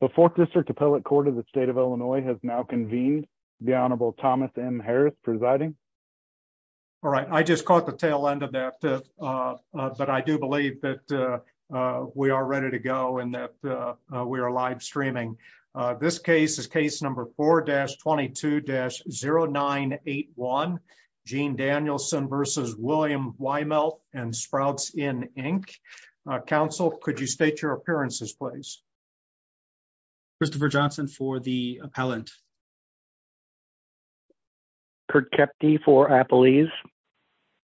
The Fourth District Appellate Court of the State of Illinois has now convened. The Honorable Thomas M. Harris presiding. All right. I just caught the tail end of that. But I do believe that we are ready to go and that we are live streaming. This case is Case Number 4-22-0981, Gene Danielson v. William Weimelt and Sprouts, Inc. Counsel, could you state your appearances, please? Christopher Johnson for the appellant. Kurt Kepty for appellees.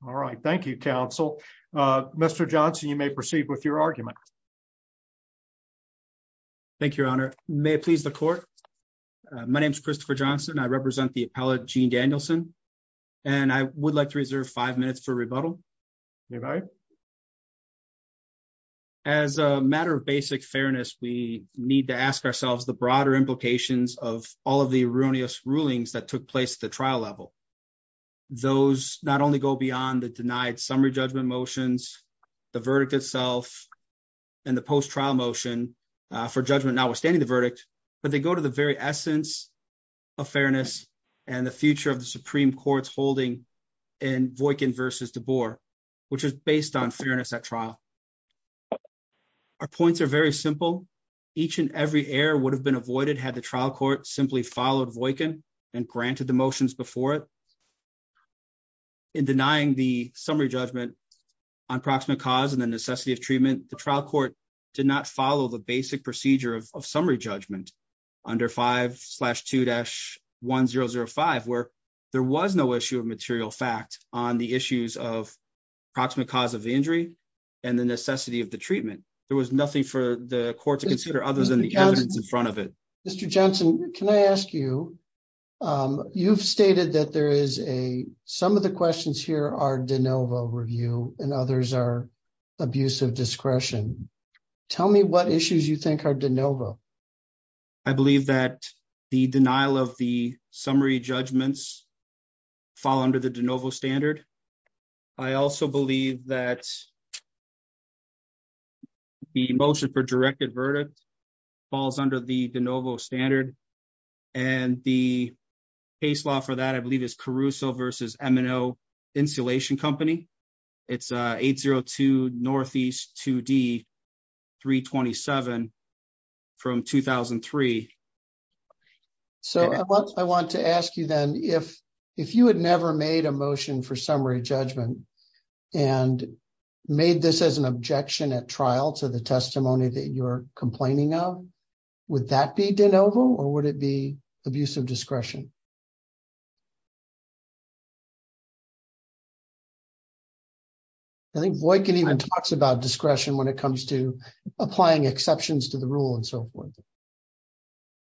All right. Thank you, Counsel. Mr. Johnson, you may proceed with your argument. Thank you, Your Honor. May it please the court. My name is Christopher Johnson. I represent the appellate, Gene Danielson, and I would like to reserve five minutes for rebuttal. All right. As a matter of basic fairness, we need to ask ourselves the broader implications of all of the erroneous rulings that took place at the trial level. Those not only go beyond the denied summary judgment motions, the verdict itself, and the post-trial motion for judgment notwithstanding the verdict, but they go to the very essence of fairness and the future of the Supreme Court's holding in Voightkin v. DeBoer, which is based on fairness at trial. Our points are very simple. Each and every error would have been avoided had the trial court simply followed Voightkin and granted the motions before it. In denying the summary judgment on proximate cause and the necessity of treatment, the trial court did not follow the basic procedure of summary judgment under 5-2-1005, where there was no issue of material fact on the issues of proximate cause of injury and the necessity of the treatment. There was nothing for the court to consider other than the evidence in front of it. Mr. Johnson, can I ask you, you've stated that there is a, some of the questions here are de novo review and others are abusive discretion. Tell me what issues you think are de novo. I believe that the denial of the summary judgments fall under the de novo standard. I also believe that the motion for directed verdict falls under the de novo standard. And the case law for that I believe is Caruso versus M&O Insulation Company. It's 802 Northeast 2D 327 from 2003. So, I want to ask you then if, if you had never made a motion for summary judgment and made this as an objection at trial to the testimony that you're complaining of, would that be de novo or would it be abusive discretion? I think Voightkin even talks about discretion when it comes to applying exceptions to the rule and so forth.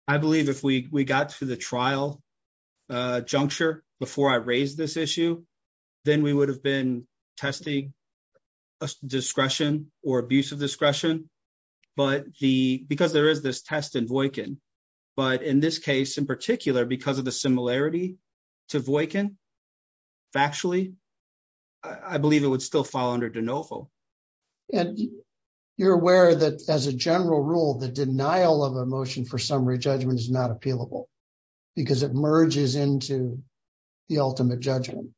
I believe if we got to the trial juncture before I raised this issue, then we would have been testing a discretion or abusive discretion. But the, because there is this test in Voightkin, but in this case in particular because of the similarity to Voightkin, factually, I believe it would still fall under de novo. And you're aware that as a general rule, the denial of a motion for summary judgment is not appealable because it merges into the ultimate judgment.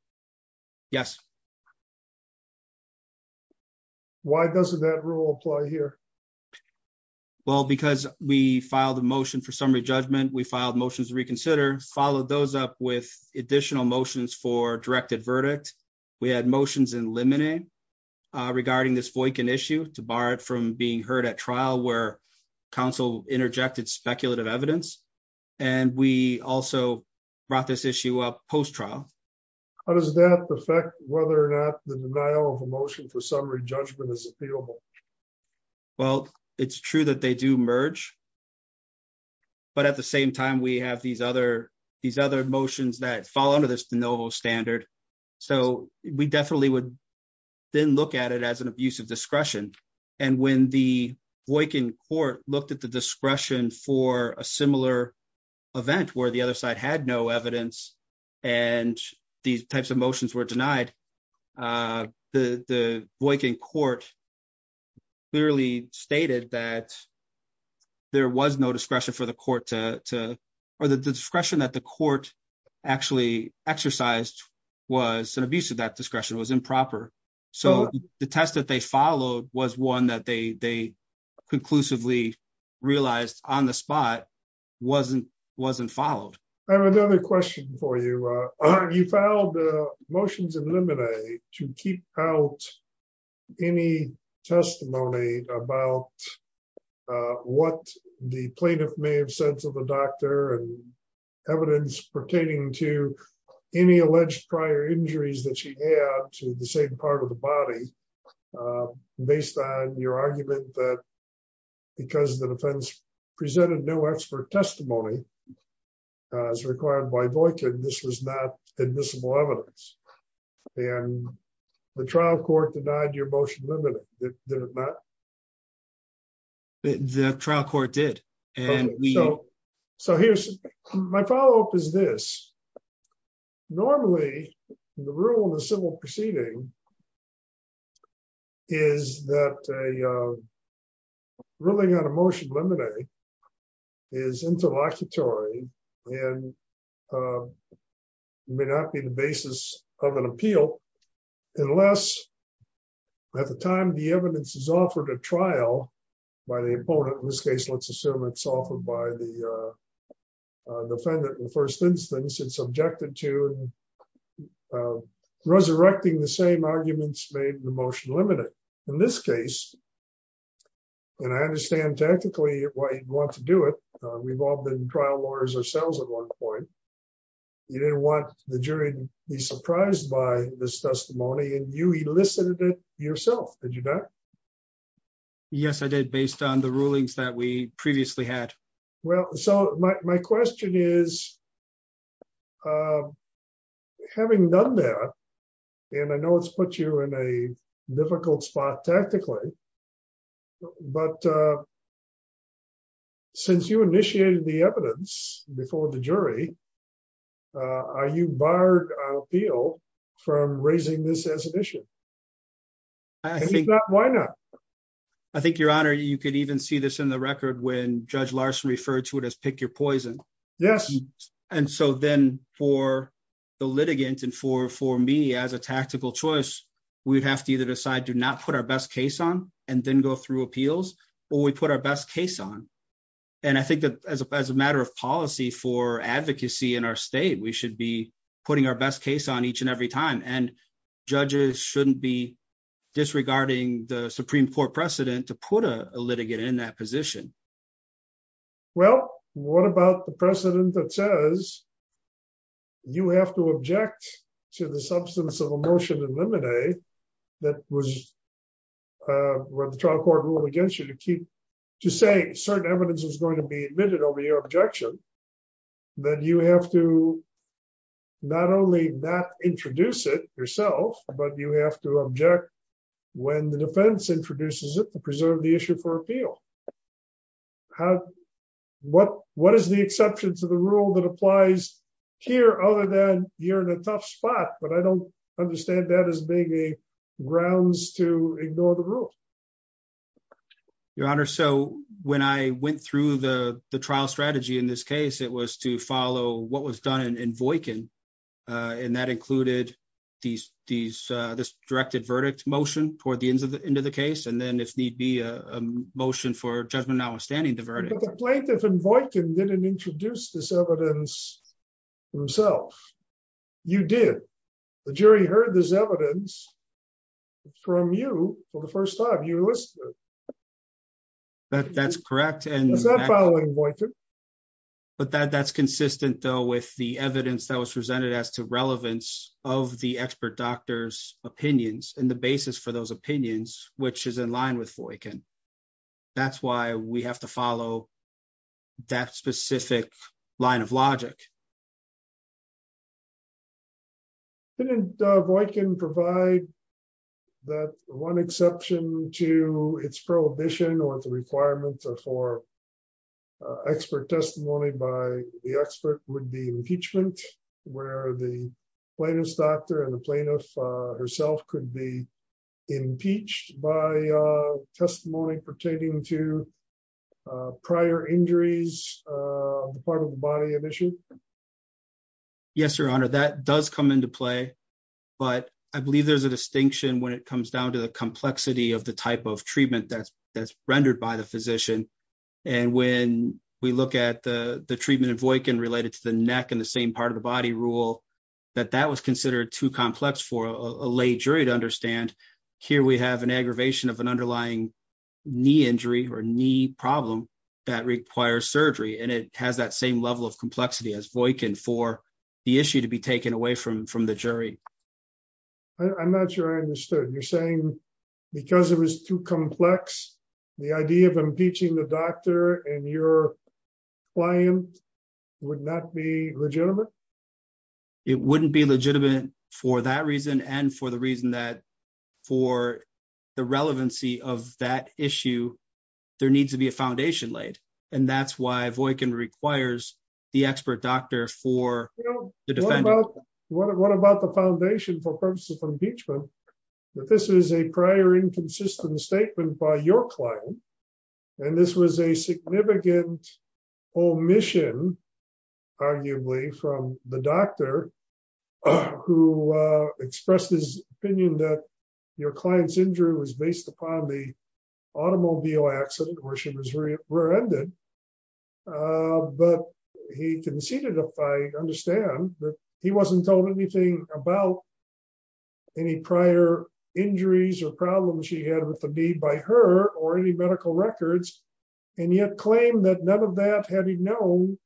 Yes. Why doesn't that rule apply here? Well, because we filed a motion for summary judgment, we filed motions to reconsider, followed those up with additional motions for directed verdict. We had motions in limine regarding this Voightkin issue to bar it from being heard at trial where counsel interjected speculative evidence. And we also brought this issue up post-trial. How does that affect whether or not the denial of a motion for summary judgment is appealable? Well, it's true that they do merge. But at the same time, we have these other motions that fall under this de novo standard. So we definitely would then look at it as an abusive discretion. And when the Voightkin court looked at the discretion for a similar event where the other side had no evidence and these types of motions were denied, the Voightkin court clearly stated that there was no discretion for the court to, or the discretion that the court actually exercised was an abuse of that discretion, was improper. So the test that they followed was one that they conclusively realized on the spot wasn't followed. I have another question for you. You filed motions in limine to keep out any testimony about what the plaintiff may have said to the doctor and evidence pertaining to any alleged prior injuries that she had to the same part of the body, based on your argument that because the defense presented no expert testimony as required by Voightkin, this was not admissible evidence. And the trial court denied your motion limited. Did it not? The trial court did. So here's my follow up is this. Normally, the rule of the civil proceeding is that a ruling on a motion limited is interlocutory and may not be the basis of an appeal. Unless at the time the evidence is offered a trial by the opponent, in this case, let's assume it's offered by the defendant in the first instance, it's subjected to resurrecting the same arguments made in the motion limited. In this case, and I understand technically why you'd want to do it. We've all been trial lawyers ourselves at one point. You didn't want the jury to be surprised by this testimony and you elicited it yourself, did you not? Yes, I did, based on the rulings that we previously had. Well, so my question is, having done that, and I know it's put you in a difficult spot tactically, but since you initiated the evidence before the jury, are you barred on appeal from raising this as an issue? If not, why not? I think, Your Honor, you could even see this in the record when Judge Larson referred to it as pick your poison. Yes. And so then for the litigant and for me as a tactical choice, we'd have to either decide to not put our best case on and then go through appeals, or we put our best case on. And I think that as a matter of policy for advocacy in our state, we should be putting our best case on each and every time. And judges shouldn't be disregarding the Supreme Court precedent to put a litigant in that position. Well, what about the precedent that says you have to object to the substance of a motion in limine that the trial court ruled against you to say certain evidence is going to be admitted over your objection, then you have to not only not introduce it yourself, but you have to object when the defense introduces it to preserve the issue for appeal. What is the exception to the rule that applies here other than you're in a tough spot? But I don't understand that as being a grounds to ignore the rule. Your Honor, so when I went through the trial strategy in this case, it was to follow what was done in Voightkin. And that included this directed verdict motion toward the end of the case, and then if need be, a motion for judgment notwithstanding the verdict. But the plaintiff in Voightkin didn't introduce this evidence himself. You did. The jury heard this evidence from you for the first time. You listed it. That's correct. It's not following Voightkin. But that's consistent, though, with the evidence that was presented as to relevance of the expert doctor's opinions and the basis for those opinions, which is in line with Voightkin. That's why we have to follow that specific line of logic. Didn't Voightkin provide that one exception to its prohibition or the requirements for expert testimony by the expert would be impeachment, where the plaintiff's doctor and the plaintiff herself could be impeached by testimony pertaining to prior injuries, part of the body of issue? Yes, Your Honor. That does come into play, but I believe there's a distinction when it comes down to the complexity of the type of treatment that's rendered by the physician. And when we look at the treatment in Voightkin related to the neck and the same part of the body rule, that that was considered too complex for a lay jury to understand. Here we have an aggravation of an underlying knee injury or knee problem that requires surgery, and it has that same level of complexity as Voightkin for the issue to be taken away from the jury. I'm not sure I understood. You're saying because it was too complex, the idea of impeaching the doctor and your client would not be legitimate? It wouldn't be legitimate for that reason and for the reason that for the relevancy of that issue, there needs to be a foundation laid. And that's why Voightkin requires the expert doctor for the defendant. What about the foundation for purposes of impeachment? This is a prior inconsistent statement by your client. And this was a significant omission, arguably, from the doctor who expressed his opinion that your client's injury was based upon the automobile accident where she was rear-ended. But he conceded, if I understand, that he wasn't told anything about any prior injuries or problems she had with the knee by her or any medical records, and yet claimed that none of that, had he known,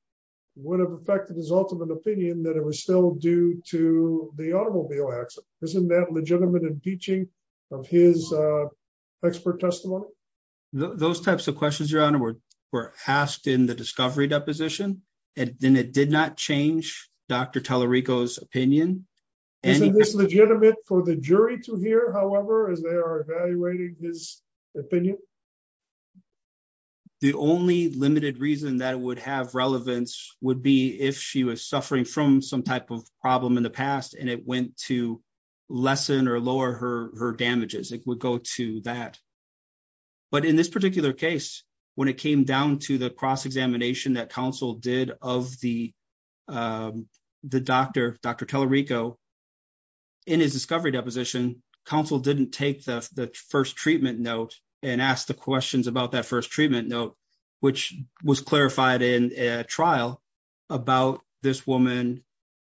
would have affected his ultimate opinion that it was still due to the automobile accident. Isn't that legitimate impeaching of his expert testimony? Those types of questions, Your Honor, were asked in the discovery deposition, and it did not change Dr. Tallarico's opinion. Isn't this legitimate for the jury to hear, however, as they are evaluating his opinion? The only limited reason that it would have relevance would be if she was suffering from some type of problem in the past and it went to lessen or lower her damages. It would go to that. But in this particular case, when it came down to the cross-examination that counsel did of the doctor, Dr. Tallarico, in his discovery deposition, counsel didn't take the first treatment note and ask the questions about that first treatment note, which was clarified in a trial about this woman.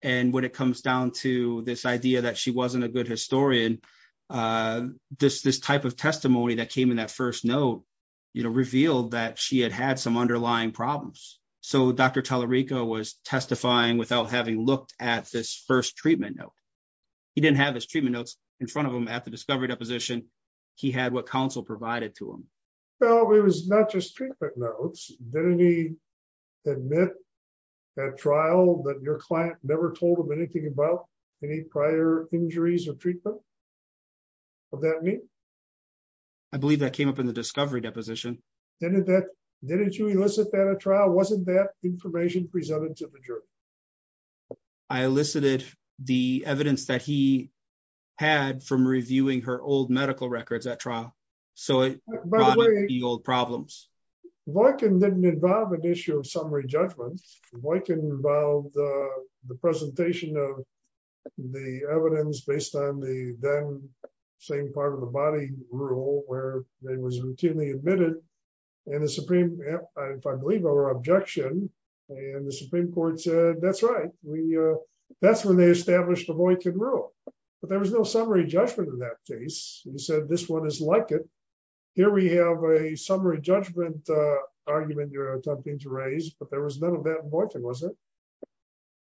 And when it comes down to this idea that she wasn't a good historian, this type of testimony that came in that first note revealed that she had had some underlying problems. So Dr. Tallarico was testifying without having looked at this first treatment note. He didn't have his treatment notes in front of him at the discovery deposition. He had what counsel provided to him. Well, it was not just treatment notes. Didn't he admit at trial that your client never told him anything about any prior injuries or treatment? What did that mean? I believe that came up in the discovery deposition. Didn't you elicit that at trial? Wasn't that information presented to the jury? I elicited the evidence that he had from reviewing her old medical records at trial. So it brought up the old problems. Boykin didn't involve an issue of summary judgment. Boykin involved the presentation of the evidence based on the then same part of the body rule where it was routinely admitted. And the Supreme, if I believe our objection, and the Supreme Court said, that's right. That's when they established the Boykin rule. But there was no summary judgment in that case. He said, this one is like it. Here we have a summary judgment argument you're attempting to raise, but there was none of that in Boykin, was there?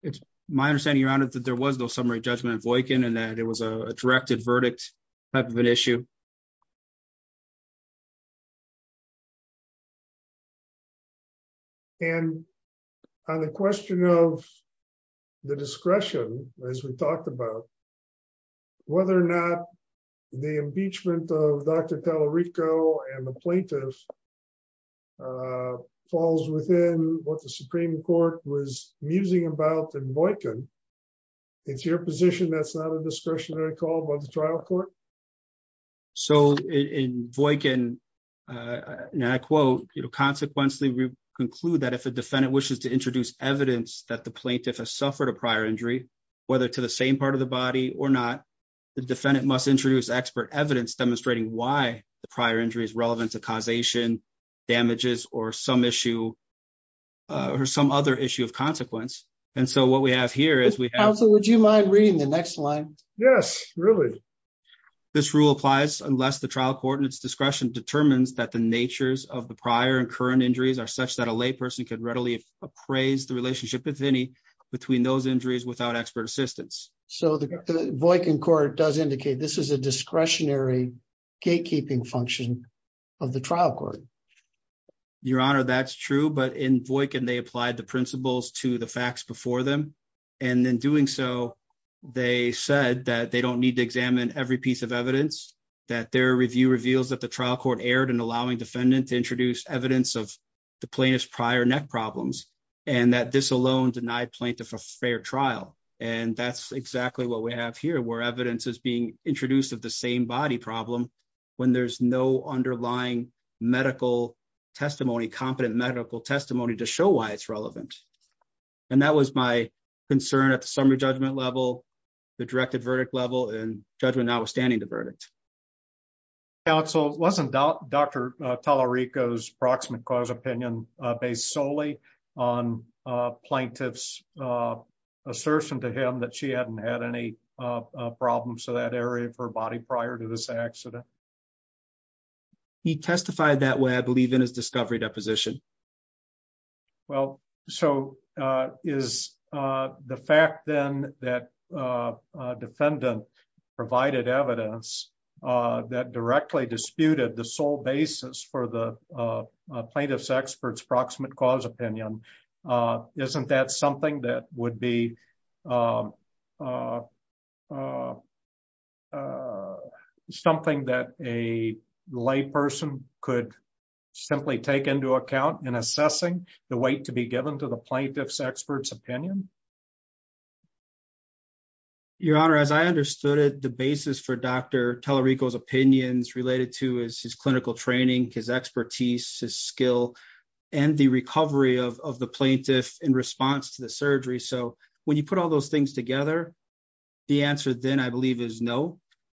It's my understanding, Your Honor, that there was no summary judgment in Boykin and that it was a directed verdict type of an issue. And on the question of the discretion, as we talked about, whether or not the impeachment of Dr. Tallarico and the plaintiffs falls within what the Supreme Court was musing about in Boykin, it's your position that's not a discretionary call by the trial court? So in Boykin, and I quote, you know, consequently, we conclude that if a defendant wishes to introduce evidence that the plaintiff has suffered a prior injury, whether to the same part of the body or not, the defendant must introduce expert evidence demonstrating why the prior injury is relevant to causation, damages, or some issue or some other issue of consequence. And so what we have here is we have... Counsel, would you mind reading the next line? Yes, really. This rule applies unless the trial court and its discretion determines that the natures of the prior and current injuries are such that a layperson could readily appraise the relationship, if any, between those injuries without expert assistance. So the Boykin court does indicate this is a discretionary gatekeeping function of the trial court. Your Honor, that's true, but in Boykin, they applied the principles to the facts before them. And in doing so, they said that they don't need to examine every piece of evidence, that their review reveals that the trial court erred in allowing defendant to introduce evidence of the plaintiff's prior neck problems, and that this alone denied plaintiff a fair trial. And that's exactly what we have here, where evidence is being introduced of the same body problem when there's no underlying medical testimony, competent medical testimony to show why it's relevant. And that was my concern at the summary judgment level, the directed verdict level, and judgment notwithstanding the verdict. Counsel, wasn't Dr. Tallarico's proximate cause opinion based solely on plaintiff's assertion to him that she hadn't had any problems with that area of her body prior to this accident? He testified that way, I believe, in his discovery deposition. Well, so is the fact then that defendant provided evidence that directly disputed the sole basis for the plaintiff's expert's proximate cause opinion, isn't that something that would be something that a lay person could simply take into account in assessing the weight to be given to the plaintiff's expert's opinion? Your Honor, as I understood it, the basis for Dr. Tallarico's opinions related to his clinical training, his expertise, his skill, and the recovery of the plaintiff in response to the surgery. So when you put all those things together, the answer then, I believe, is no.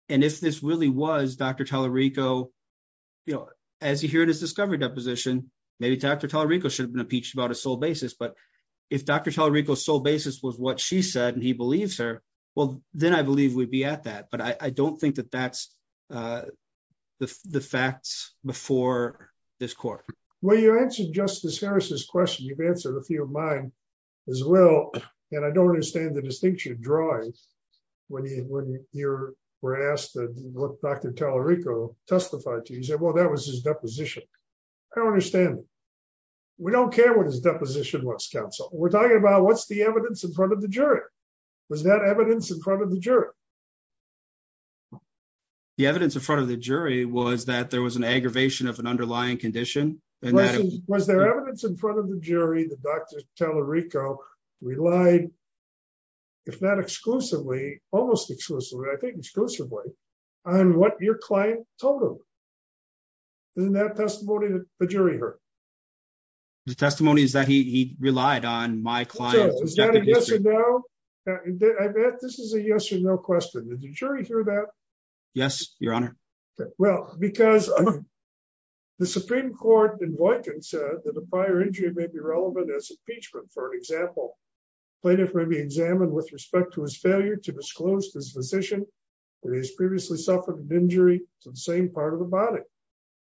And if this really was Dr. Tallarico, you know, as you hear in his discovery deposition, maybe Dr. Tallarico should have been impeached about his sole basis. But if Dr. Tallarico's sole basis was what she said and he believes her, well, then I believe we'd be at that. But I don't think that that's the facts before this court. Well, you answered Justice Harris's question. You've answered a few of mine as well. And I don't understand the distinction drawing when you were asked what Dr. Tallarico testified to. He said, well, that was his deposition. I don't understand. We don't care what his deposition was, counsel. We're talking about what's the evidence in front of the jury. Was that evidence in front of the jury? The evidence in front of the jury was that there was an aggravation of an underlying condition. Was there evidence in front of the jury that Dr. Tallarico relied, if not exclusively, almost exclusively, I think exclusively, on what your client told him? Isn't that testimony that the jury heard? The testimony is that he relied on my client. I bet this is a yes or no question. Did the jury hear that? Yes, Your Honor. Well, because the Supreme Court in Boykin said that the prior injury may be relevant as impeachment. For example, plaintiff may be examined with respect to his failure to disclose to his physician that he has previously suffered an injury to the same part of the body.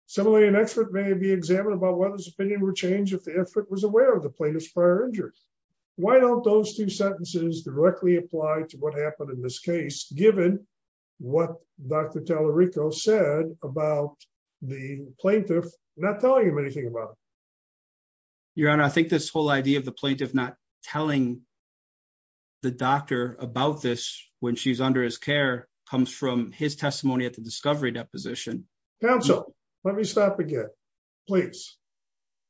Similarly, an expert may be examined about whether his opinion would change if the expert was aware of the plaintiff's prior injuries. Why don't those two sentences directly apply to what happened in this case, given what Dr. Tallarico said about the plaintiff not telling him anything about it? Your Honor, I think this whole idea of the plaintiff not telling the doctor about this when she's under his care comes from his testimony at the discovery deposition. Counsel, let me stop again, please.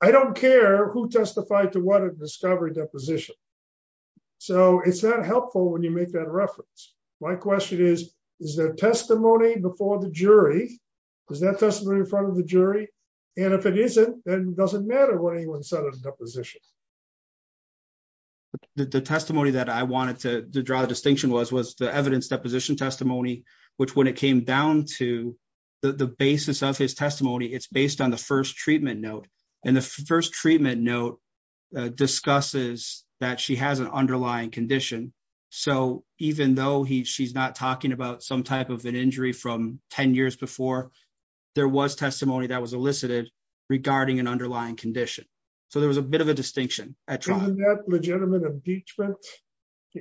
I don't care who testified to what at the discovery deposition. So it's not helpful when you make that reference. My question is, is there testimony before the jury? Is that testimony in front of the jury? And if it isn't, then it doesn't matter what anyone said at the deposition. The testimony that I wanted to draw the distinction was the evidence deposition testimony, which when it came down to the basis of his testimony, it's based on the first treatment note. And the first treatment note discusses that she has an underlying condition. So even though she's not talking about some type of an injury from 10 years before, there was testimony that was elicited regarding an underlying condition. So there was a bit of a distinction. Isn't that legitimate impeachment?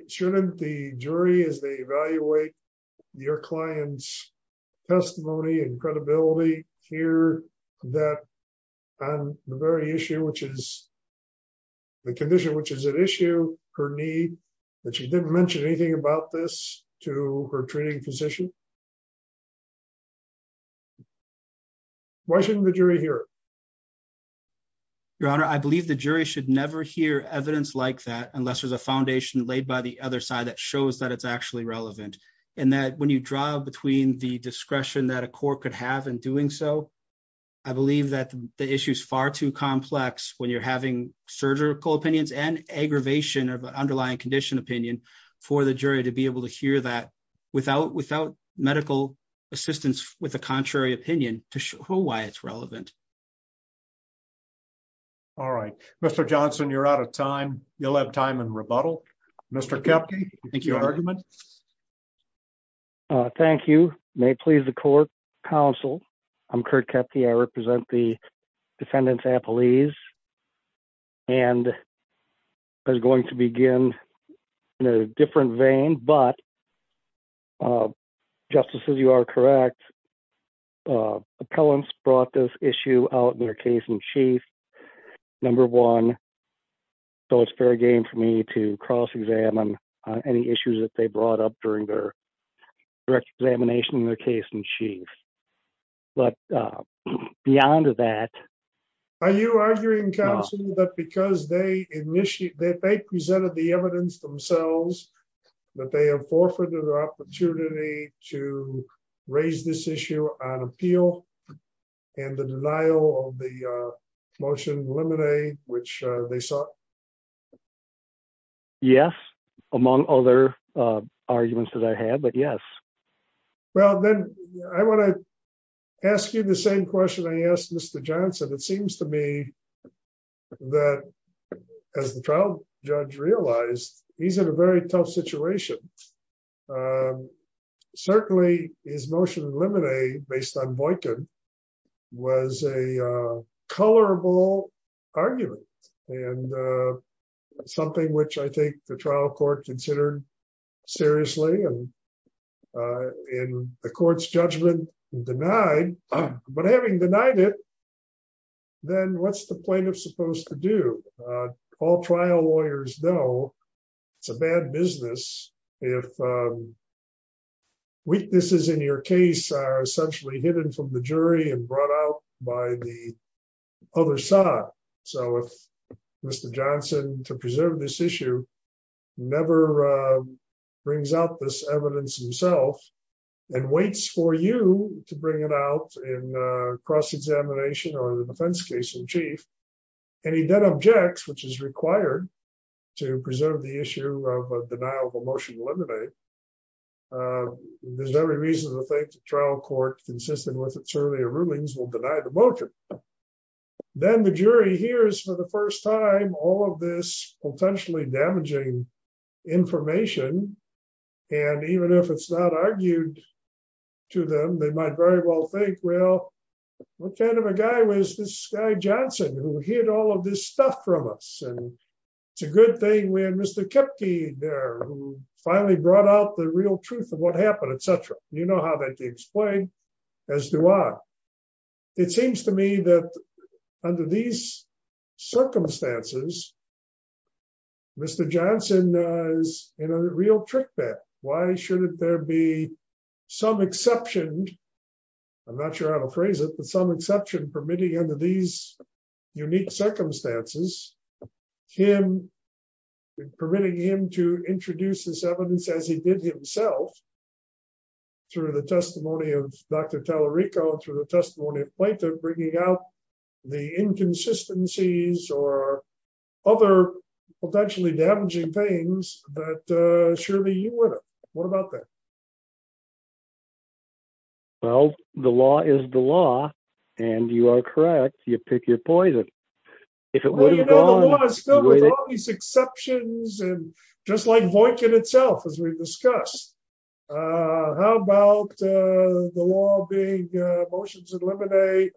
Shouldn't the jury, as they evaluate your client's testimony and credibility, hear that on the very issue, which is the condition which is at issue, her need that she didn't mention anything about this to her treating physician? Why shouldn't the jury hear it? Your Honor, I believe the jury should never hear evidence like that unless there's a foundation laid by the other side that shows that it's actually relevant. And that when you draw between the discretion that a court could have in doing so, I believe that the issue is far too complex when you're having surgical opinions and aggravation of underlying condition opinion for the jury to be able to hear that without medical assistance with a contrary opinion to show why it's relevant. All right, Mr. Johnson, you're out of time. You'll have time and rebuttal. Mr. Thank you. Thank you. May please the court counsel. I'm Kurt kept the I represent the defendants appellees. And I was going to begin in a different vein but justices you are correct. Appellants brought this issue out in their case in chief. Number one. So it's fair game for me to cross examine any issues that they brought up during their direct examination in their case in chief. But beyond that, are you arguing that because they initiate that they presented the evidence themselves that they have forfeited the opportunity to raise this issue on appeal, and the denial of the motion eliminate, which they saw. Yes. Among other arguments that I had but yes. Well then I want to ask you the same question I asked Mr. Johnson it seems to me that as the trial judge realized, he's in a very tough situation. Certainly, his motion eliminate based on Boykin was a colorable argument, and something which I think the trial court considered seriously and in the court's judgment denied, but having denied it. Then what's the plaintiff supposed to do. All trial lawyers know it's a bad business. If weaknesses in your case are essentially hidden from the jury and brought out by the other side. So if Mr. Johnson to preserve this issue. Never brings out this evidence himself and waits for you to bring it out in cross examination or the defense case in chief. And he then objects which is required to preserve the issue of denial of emotion eliminate. There's every reason to think trial court consistent with its earlier rulings will deny the motion. Then the jury hears for the first time all of this potentially damaging information. And even if it's not argued to them, they might very well think well, what kind of a guy was this guy Johnson who hid all of this stuff from us and it's a good thing when Mr. finally brought out the real truth of what happened, etc. You know how that gets played. As do I. It seems to me that under these circumstances. Mr. Johnson is in a real trick bet. Why shouldn't there be some exception. I'm not sure how to phrase it, but some exception permitting under these unique circumstances, him permitting him to introduce this evidence as he did himself through the testimony of Dr. bringing out the inconsistencies or other potentially damaging things that surely you would. What about that. Well, the law is the law. And you are correct, you pick your poison. These exceptions and just like voice in itself as we've discussed. How about the law being motions eliminate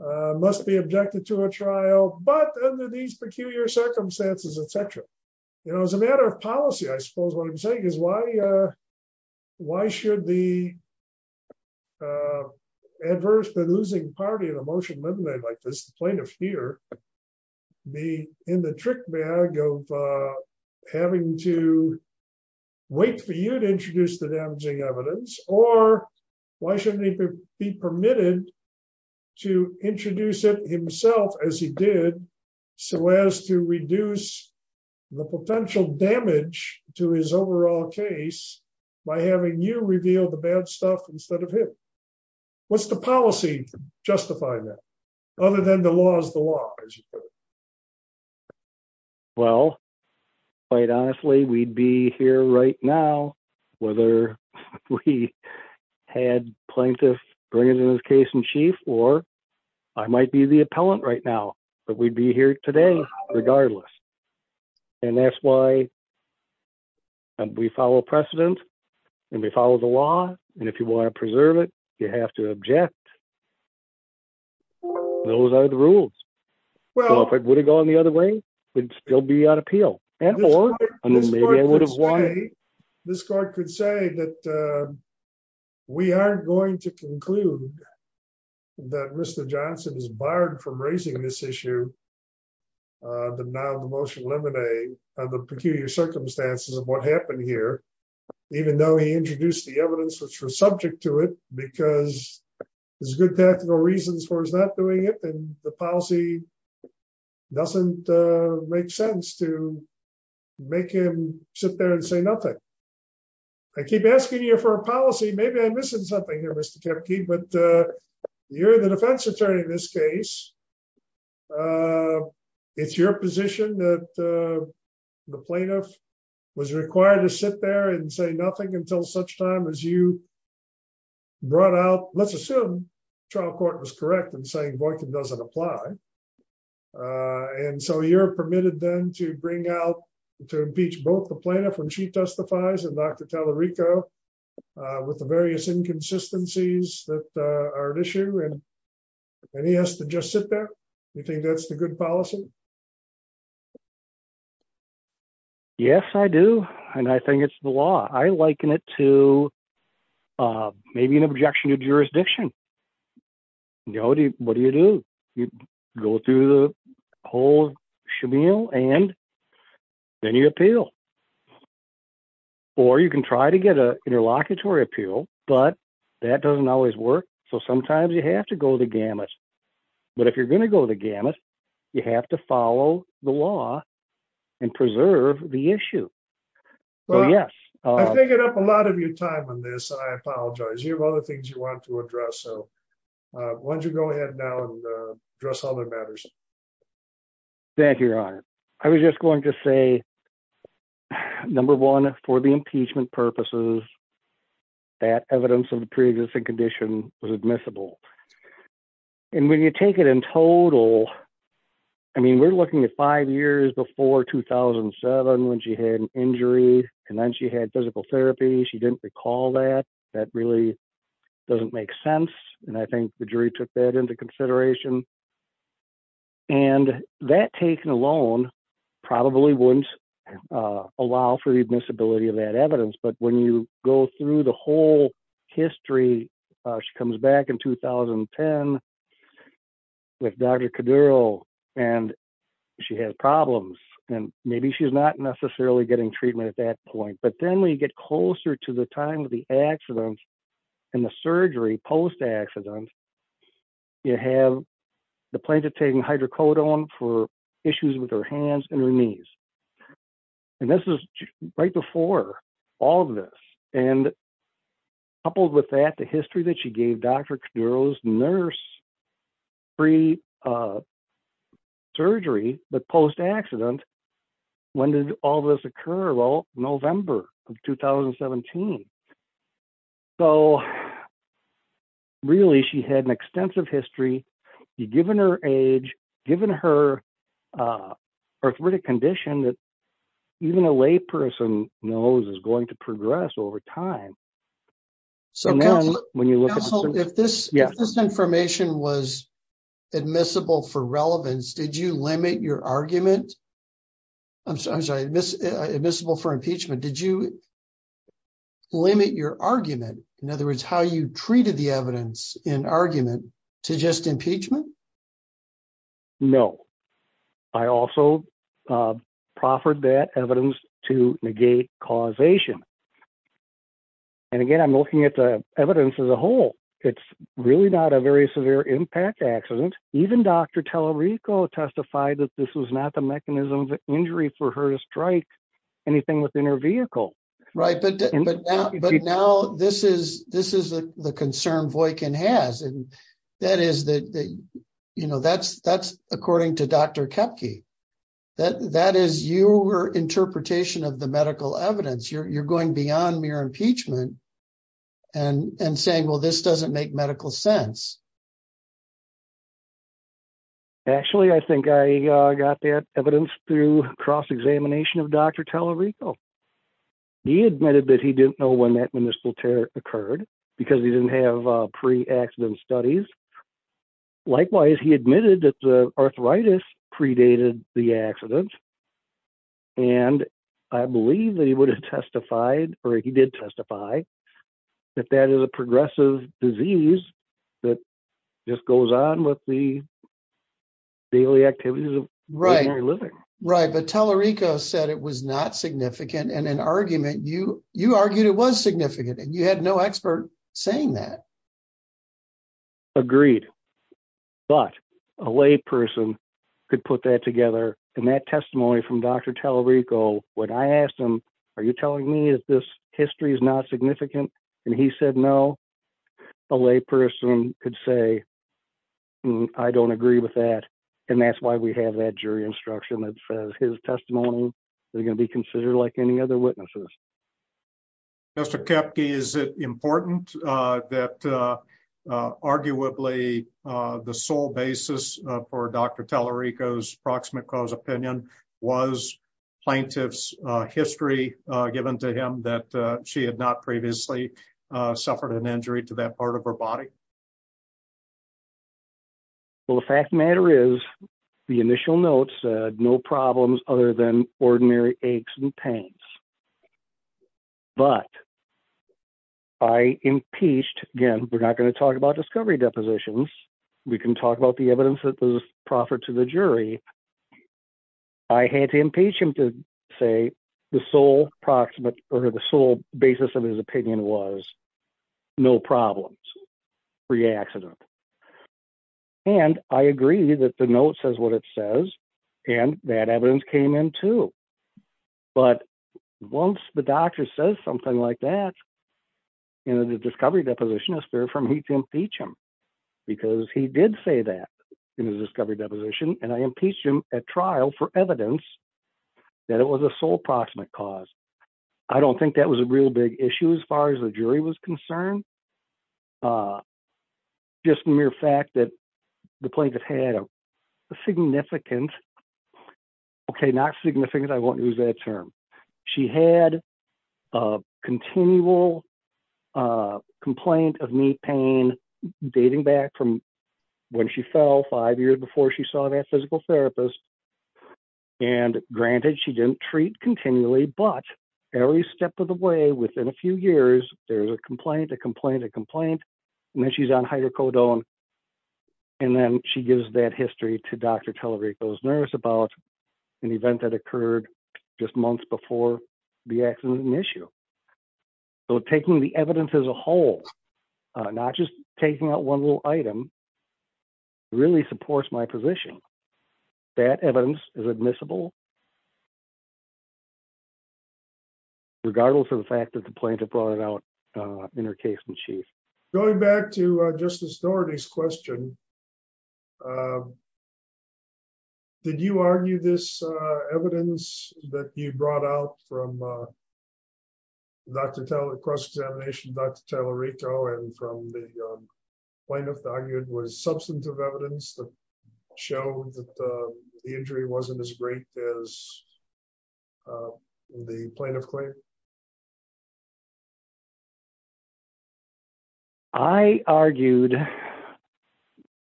must be objected to a trial, but under these peculiar circumstances, etc. You know, as a matter of policy, I suppose what I'm saying is why. Why should the adverse than losing party of emotion Monday like this plaintiff here be in the trick bag of having to wait for you to introduce the damaging evidence, or why shouldn't it be permitted to introduce it himself as he did. So as to reduce the potential damage to his overall case by having you reveal the bad stuff instead of him. What's the policy justify that, other than the laws the law. Well, quite honestly, we'd be here right now, whether we had plaintiff, bring it in his case in chief, or I might be the appellant right now, but we'd be here today, regardless. And that's why we follow precedent, and we follow the law, and if you want to preserve it, you have to object. Those are the rules. Well, if it would have gone the other way, would still be on appeal, and more. This card could say that we are going to conclude that Mr Johnson is barred from raising this issue. The now the motion lemonade of the peculiar circumstances of what happened here. Even though he introduced the evidence which was subject to it, because there's good technical reasons for is not doing it and the policy doesn't make sense to make him sit there and say nothing. I keep asking you for a policy maybe I'm missing something here Mr Kemp key but you're the defense attorney in this case. It's your position that the plaintiff was required to sit there and say nothing until such time as you brought out, let's assume trial court was correct and saying boycott doesn't apply. And so you're permitted them to bring out to impeach both the planet when she testifies and Dr. Rico, with the various inconsistencies that are an issue and he has to just sit there. You think that's the good policy. Yes, I do. And I think it's the law I liken it to maybe an objection to jurisdiction. You already, what do you do, you go through the whole shemale and then you appeal. Or you can try to get a interlocutory appeal, but that doesn't always work. So sometimes you have to go the gamut. But if you're going to go the gamut. You have to follow the law and preserve the issue. Yes, I figured up a lot of your time on this I apologize you have other things you want to address so why don't you go ahead now and dress all the matters that you're on. I was just going to say. Number one, for the impeachment purposes that evidence of the previous condition was admissible. And when you take it in total. I mean we're looking at five years before 2007 when she had an injury, and then she had physical therapy she didn't recall that that really doesn't make sense. And I think the jury took that into consideration. And that taken alone, probably wouldn't allow for the visibility of that evidence but when you go through the whole history. She comes back in 2010 with Dr. And she had problems, and maybe she's not necessarily getting treatment at that point but then we get closer to the time of the accident. And the surgery post accident. You have the plaintiff taking hydrocodone for issues with her hands and knees. And this is right before all of this, and coupled with that the history that she gave Dr. So, really she had an extensive history, you given her age, given her arthritic condition that even a layperson knows is going to progress over time. So when you look at this, this information was admissible for relevance did you limit your argument. I'm sorry this admissible for impeachment. Did you limit your argument. In other words, how you treated the evidence in argument to just impeachment. No. I also proffered that evidence to negate causation. And again I'm looking at the evidence as a whole. It's really not a very severe impact accident, even Dr. going beyond mere impeachment and saying well this doesn't make medical sense. Actually I think I got that evidence through cross examination of Dr. He admitted that he didn't know when that when this will occur occurred because he didn't have pre accident studies. Likewise, he admitted that the arthritis predated the accident. And I believe that he would have testified, or he did testify that that is a progressive disease that just goes on with the daily activities of regular living. Right, but Tallarico said it was not significant and an argument you, you argued it was significant and you had no expert, saying that. Agreed, but a layperson could put that together, and that testimony from Dr Tallarico, when I asked him, are you telling me that this history is not significant, and he said no. A layperson could say, I don't agree with that. And that's why we have that jury instruction that says his testimony, they're going to be considered like any other witnesses. Mr. Kepke, is it important that arguably the sole basis for Dr. Tallarico's proximate cause opinion was plaintiff's history, given to him that she had not previously suffered an injury to that part of her body. Well, the fact of the matter is the initial notes, no problems, other than ordinary aches and pains. But I impeached, again, we're not going to talk about discovery depositions, we can talk about the evidence that was proffered to the jury. I had to impeach him to say the sole basis of his opinion was no problems, pre accident. And I agree that the note says what it says, and that evidence came in too. But once the doctor says something like that, you know, the discovery deposition is fair for me to impeach him, because he did say that in his discovery deposition, and I impeached him at trial for evidence that it was a sole proximate cause. I don't think that was a real big issue as far as the jury was concerned. Just mere fact that the plaintiff had a significant, okay, not significant, I won't use that term. She had a continual complaint of knee pain, dating back from when she fell five years before she saw that physical therapist. And granted, she didn't treat continually, but every step of the way within a few years, there's a complaint, a complaint, a complaint, and then she's on hydrocodone. And then she gives that history to Dr. Tallarico's nurse about an event that occurred just months before the accident issue. So taking the evidence as a whole, not just taking out one little item, really supports my position. That evidence is admissible, regardless of the fact that the plaintiff brought it out in her case in chief. Going back to Justice Dougherty's question, did you argue this evidence that you brought out from cross-examination Dr. Tallarico and from the plaintiff that argued was substantive evidence that showed that the injury wasn't as great as the plaintiff claimed? I argued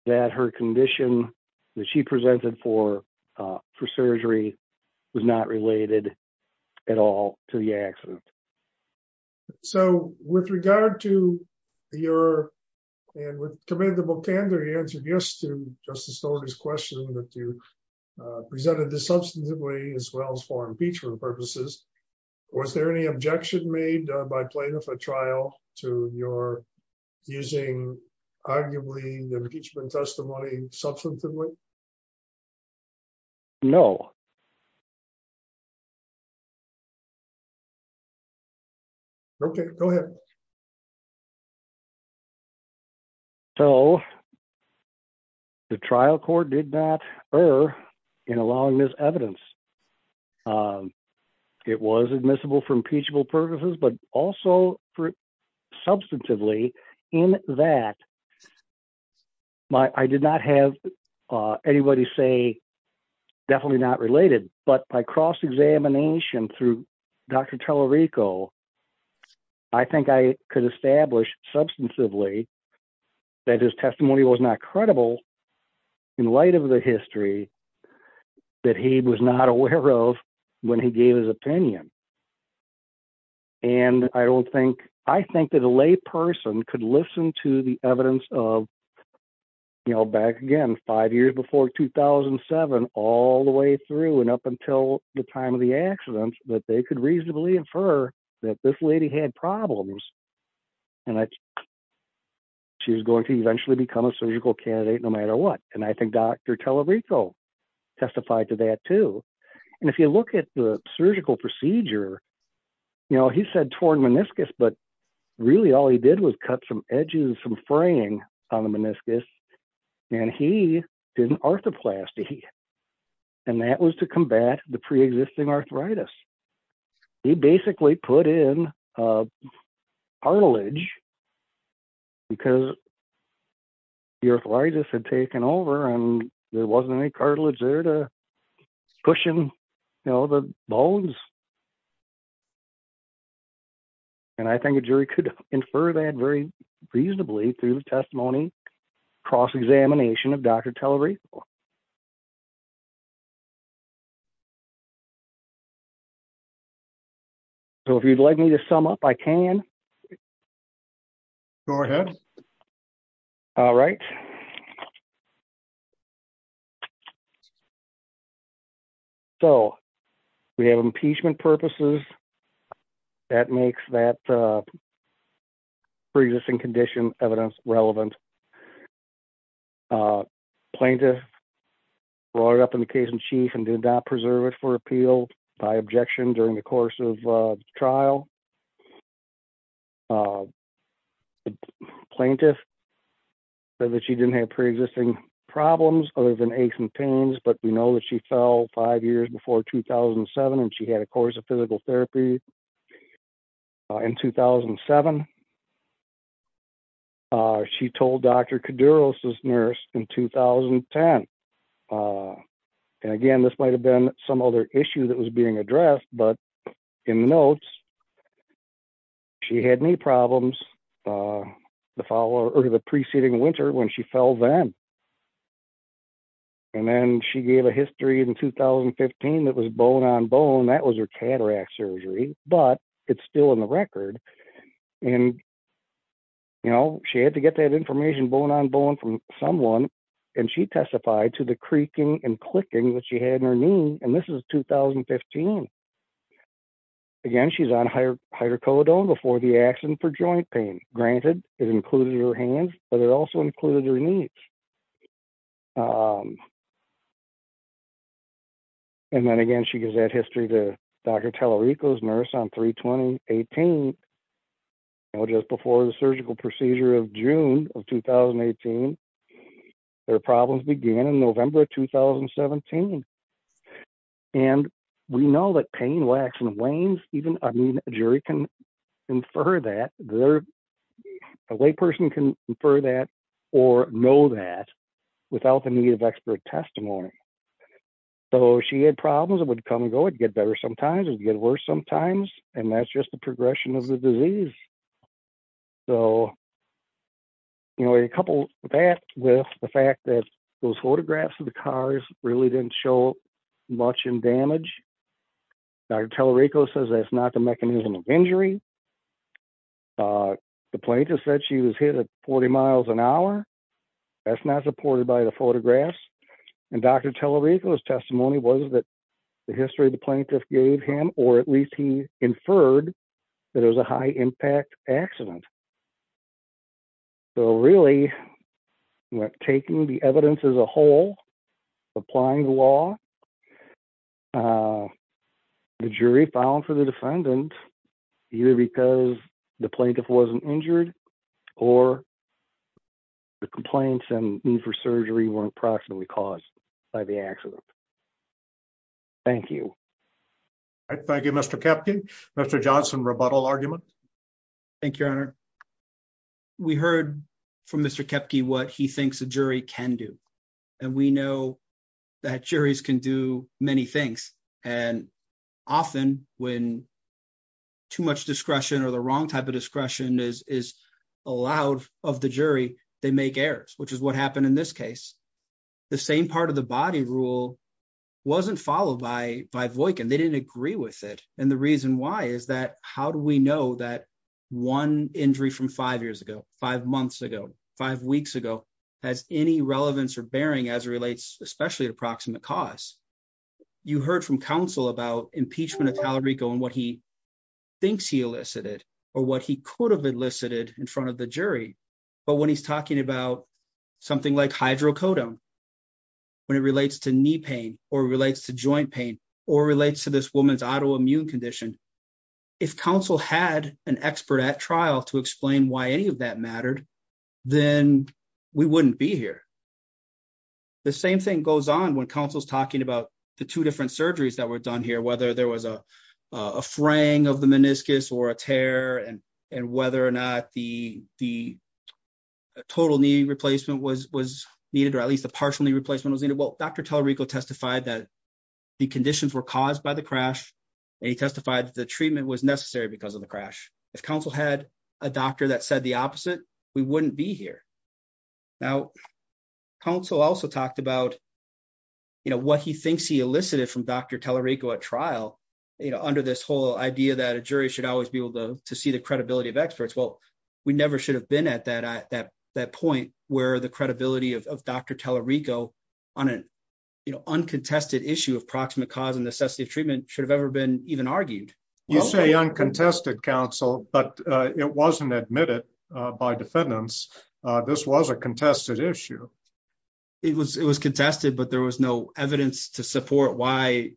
that her condition that she presented for surgery was not related at all to the accident. So with regard to your, and with commendable candor, you answered yes to Justice Dougherty's question that you presented this substantively as well as for impeachment purposes. Was there any objection made by plaintiff at trial to your using arguably the impeachment testimony substantively? No. Okay, go ahead. So the trial court did not err in allowing this evidence. It was admissible for impeachable purposes, but also substantively in that. I did not have anybody say definitely not related, but by cross-examination through Dr. Tallarico, I think I could establish substantively that his testimony was not credible in light of the history that he was not aware of when he gave his opinion. And I don't think, I think that a lay person could listen to the evidence of, you know, back again, five years before 2007, all the way through and up until the time of the accident, that they could reasonably infer that this lady had problems. And she's going to eventually become a surgical candidate no matter what. And I think Dr. Tallarico testified to that too. And if you look at the surgical procedure, you know, he said torn meniscus, but really all he did was cut some edges, some fraying on the meniscus and he did an arthroplasty. And that was to combat the preexisting arthritis. He basically put in cartilage because the arthritis had taken over and there wasn't any cartilage there to cushion, you know, the bones. And I think a jury could infer that very reasonably through the testimony cross-examination of Dr. Tallarico. So if you'd like me to sum up, I can. Go ahead. All right. So we have impeachment purposes. That makes that preexisting condition evidence relevant. Plaintiff brought it up in the case in chief and did not preserve it for appeal by objection during the course of trial. Plaintiff said that she didn't have preexisting problems other than aches and pains, but we know that she fell five years before 2007 and she had a course of physical therapy in 2007. She told Dr. Kuduros' nurse in 2010. And again, this might have been some other issue that was being addressed, but in the notes, she had knee problems the following or the preceding winter when she fell then. And then she gave a history in 2015 that was bone on bone. That was her cataract surgery, but it's still in the record. And, you know, she had to get that information bone on bone from someone and she testified to the creaking and clicking that she had in her knee. And this is 2015. Again, she's on hydrocodone before the accident for joint pain. Granted, it included her hands, but it also included her knees. And then again, she gives that history to Dr. Tallarico's nurse on 3-20-18, just before the surgical procedure of June of 2018. Her problems began in November of 2017. And we know that pain, wax, and wanes, even a jury can infer that, a layperson can infer that or know that without the need of expert testimony. So she had problems that would come and go. It would get better sometimes. It would get worse sometimes. And that's just the progression of the disease. So, you know, a couple of that with the fact that those photographs of the cars really didn't show much in damage. Dr. Tallarico says that's not the mechanism of injury. The plaintiff said she was hit at 40 miles an hour. That's not supported by the photographs. And Dr. Tallarico's testimony was that the history the plaintiff gave him, or at least he inferred, that it was a high-impact accident. So really, taking the evidence as a whole, applying the law, the jury filed for the defendant either because the plaintiff wasn't injured or the complaints and need for surgery weren't proximately caused by the accident. Thank you. Thank you, Mr. Kepke. Mr. Johnson, rebuttal argument? Thank you, Your Honor. We heard from Mr. Kepke what he thinks a jury can do. And we know that juries can do many things. And often when too much discretion or the wrong type of discretion is allowed of the jury, they make errors, which is what happened in this case. The same part of the body rule wasn't followed by Voykin. They didn't agree with it. And the reason why is that how do we know that one injury from five years ago, five months ago, five weeks ago, has any relevance or bearing as it relates especially to proximate cause? You heard from counsel about impeachment of Tallarico and what he thinks he elicited or what he could have elicited in front of the jury. But when he's talking about something like hydrocodone, when it relates to knee pain or relates to joint pain or relates to this woman's autoimmune condition, if counsel had an expert at trial to explain why any of that mattered, then we wouldn't be here. The same thing goes on when counsel is talking about the two different surgeries that were done here, whether there was a fraying of the meniscus or a tear and whether or not the total knee replacement was needed or at least a partial knee replacement was needed. Well, Dr. Tallarico testified that the conditions were caused by the crash and he testified that the treatment was necessary because of the crash. If counsel had a doctor that said the opposite, we wouldn't be here. Now, counsel also talked about what he thinks he elicited from Dr. Tallarico at trial under this whole idea that a jury should always be able to see the credibility of experts. Well, we never should have been at that point where the credibility of Dr. Tallarico on an uncontested issue of proximate cause and necessity of treatment should have ever been even argued. You say uncontested, counsel, but it wasn't admitted by defendants. This was a contested issue. It was contested, but there was no evidence to support why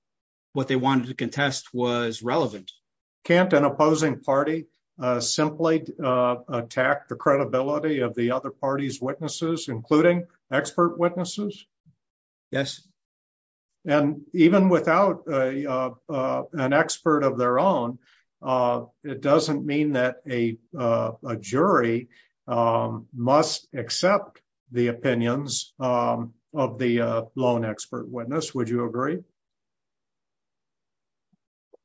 what they wanted to contest was relevant. Can't an opposing party simply attack the credibility of the other party's witnesses, including expert witnesses? Yes. And even without an expert of their own, it doesn't mean that a jury must accept the opinions of the lone expert witness. Would you agree?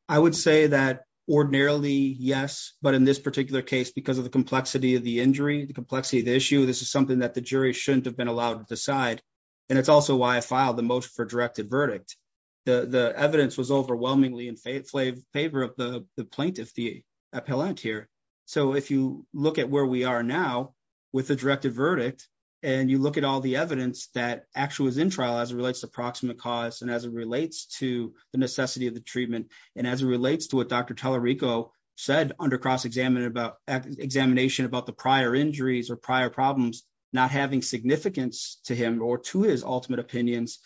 I would say that ordinarily, yes, but in this particular case, because of the complexity of the injury, the complexity of the issue, this is something that the jury shouldn't have been allowed to decide. And it's also why I filed the motion for a directed verdict. The evidence was overwhelmingly in favor of the plaintiff, the appellant here. So if you look at where we are now with the directed verdict, and you look at all the evidence that actually was in trial as it relates to proximate cause and as it relates to the necessity of the treatment, and as it relates to what Dr. Tallarico said under cross-examination about the prior injuries or prior problems not having significance to him or to his ultimate opinions,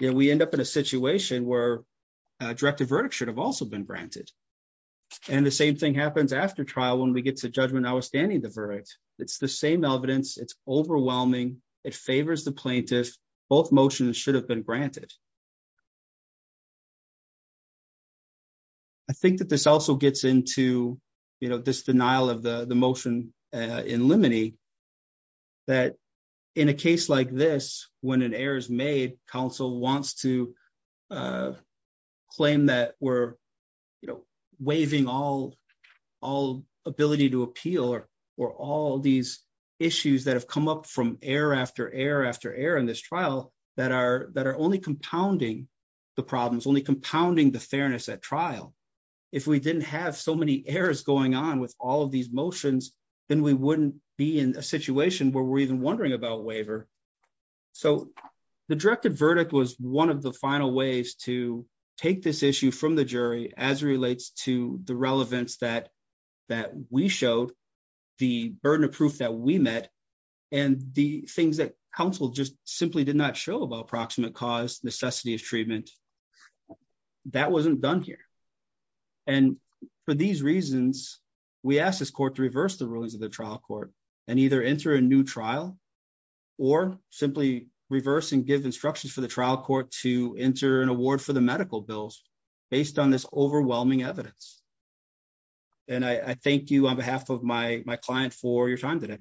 we end up in a situation where a directed verdict should have also been granted. And the same thing happens after trial when we get to judgment outstanding the verdict. It's the same evidence. It's overwhelming. It favors the plaintiff. Both motions should have been granted. I think that this also gets into this denial of the motion in limine that in a case like this, when an error is made, counsel wants to claim that we're waiving all ability to appeal or all these issues that have come up from error after error after error in this trial that are only compounding the problems, only compounding the fairness at trial. If we didn't have so many errors going on with all of these motions, then we wouldn't be in a situation where we're even wondering about waiver. So the directed verdict was one of the final ways to take this issue from the jury as it relates to the relevance that we showed, the burden of proof that we met, and the things that counsel just simply did not show about approximate cause, necessity of treatment. That wasn't done here. And for these reasons, we asked this court to reverse the rulings of the trial court and either enter a new trial or simply reverse and give instructions for the trial court to enter an award for the medical bills based on this overwhelming evidence. And I thank you on behalf of my client for your time today.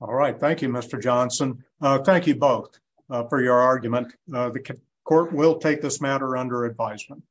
All right. Thank you, Mr. Johnson. Thank you both for your argument. The court will take this matter under advisement.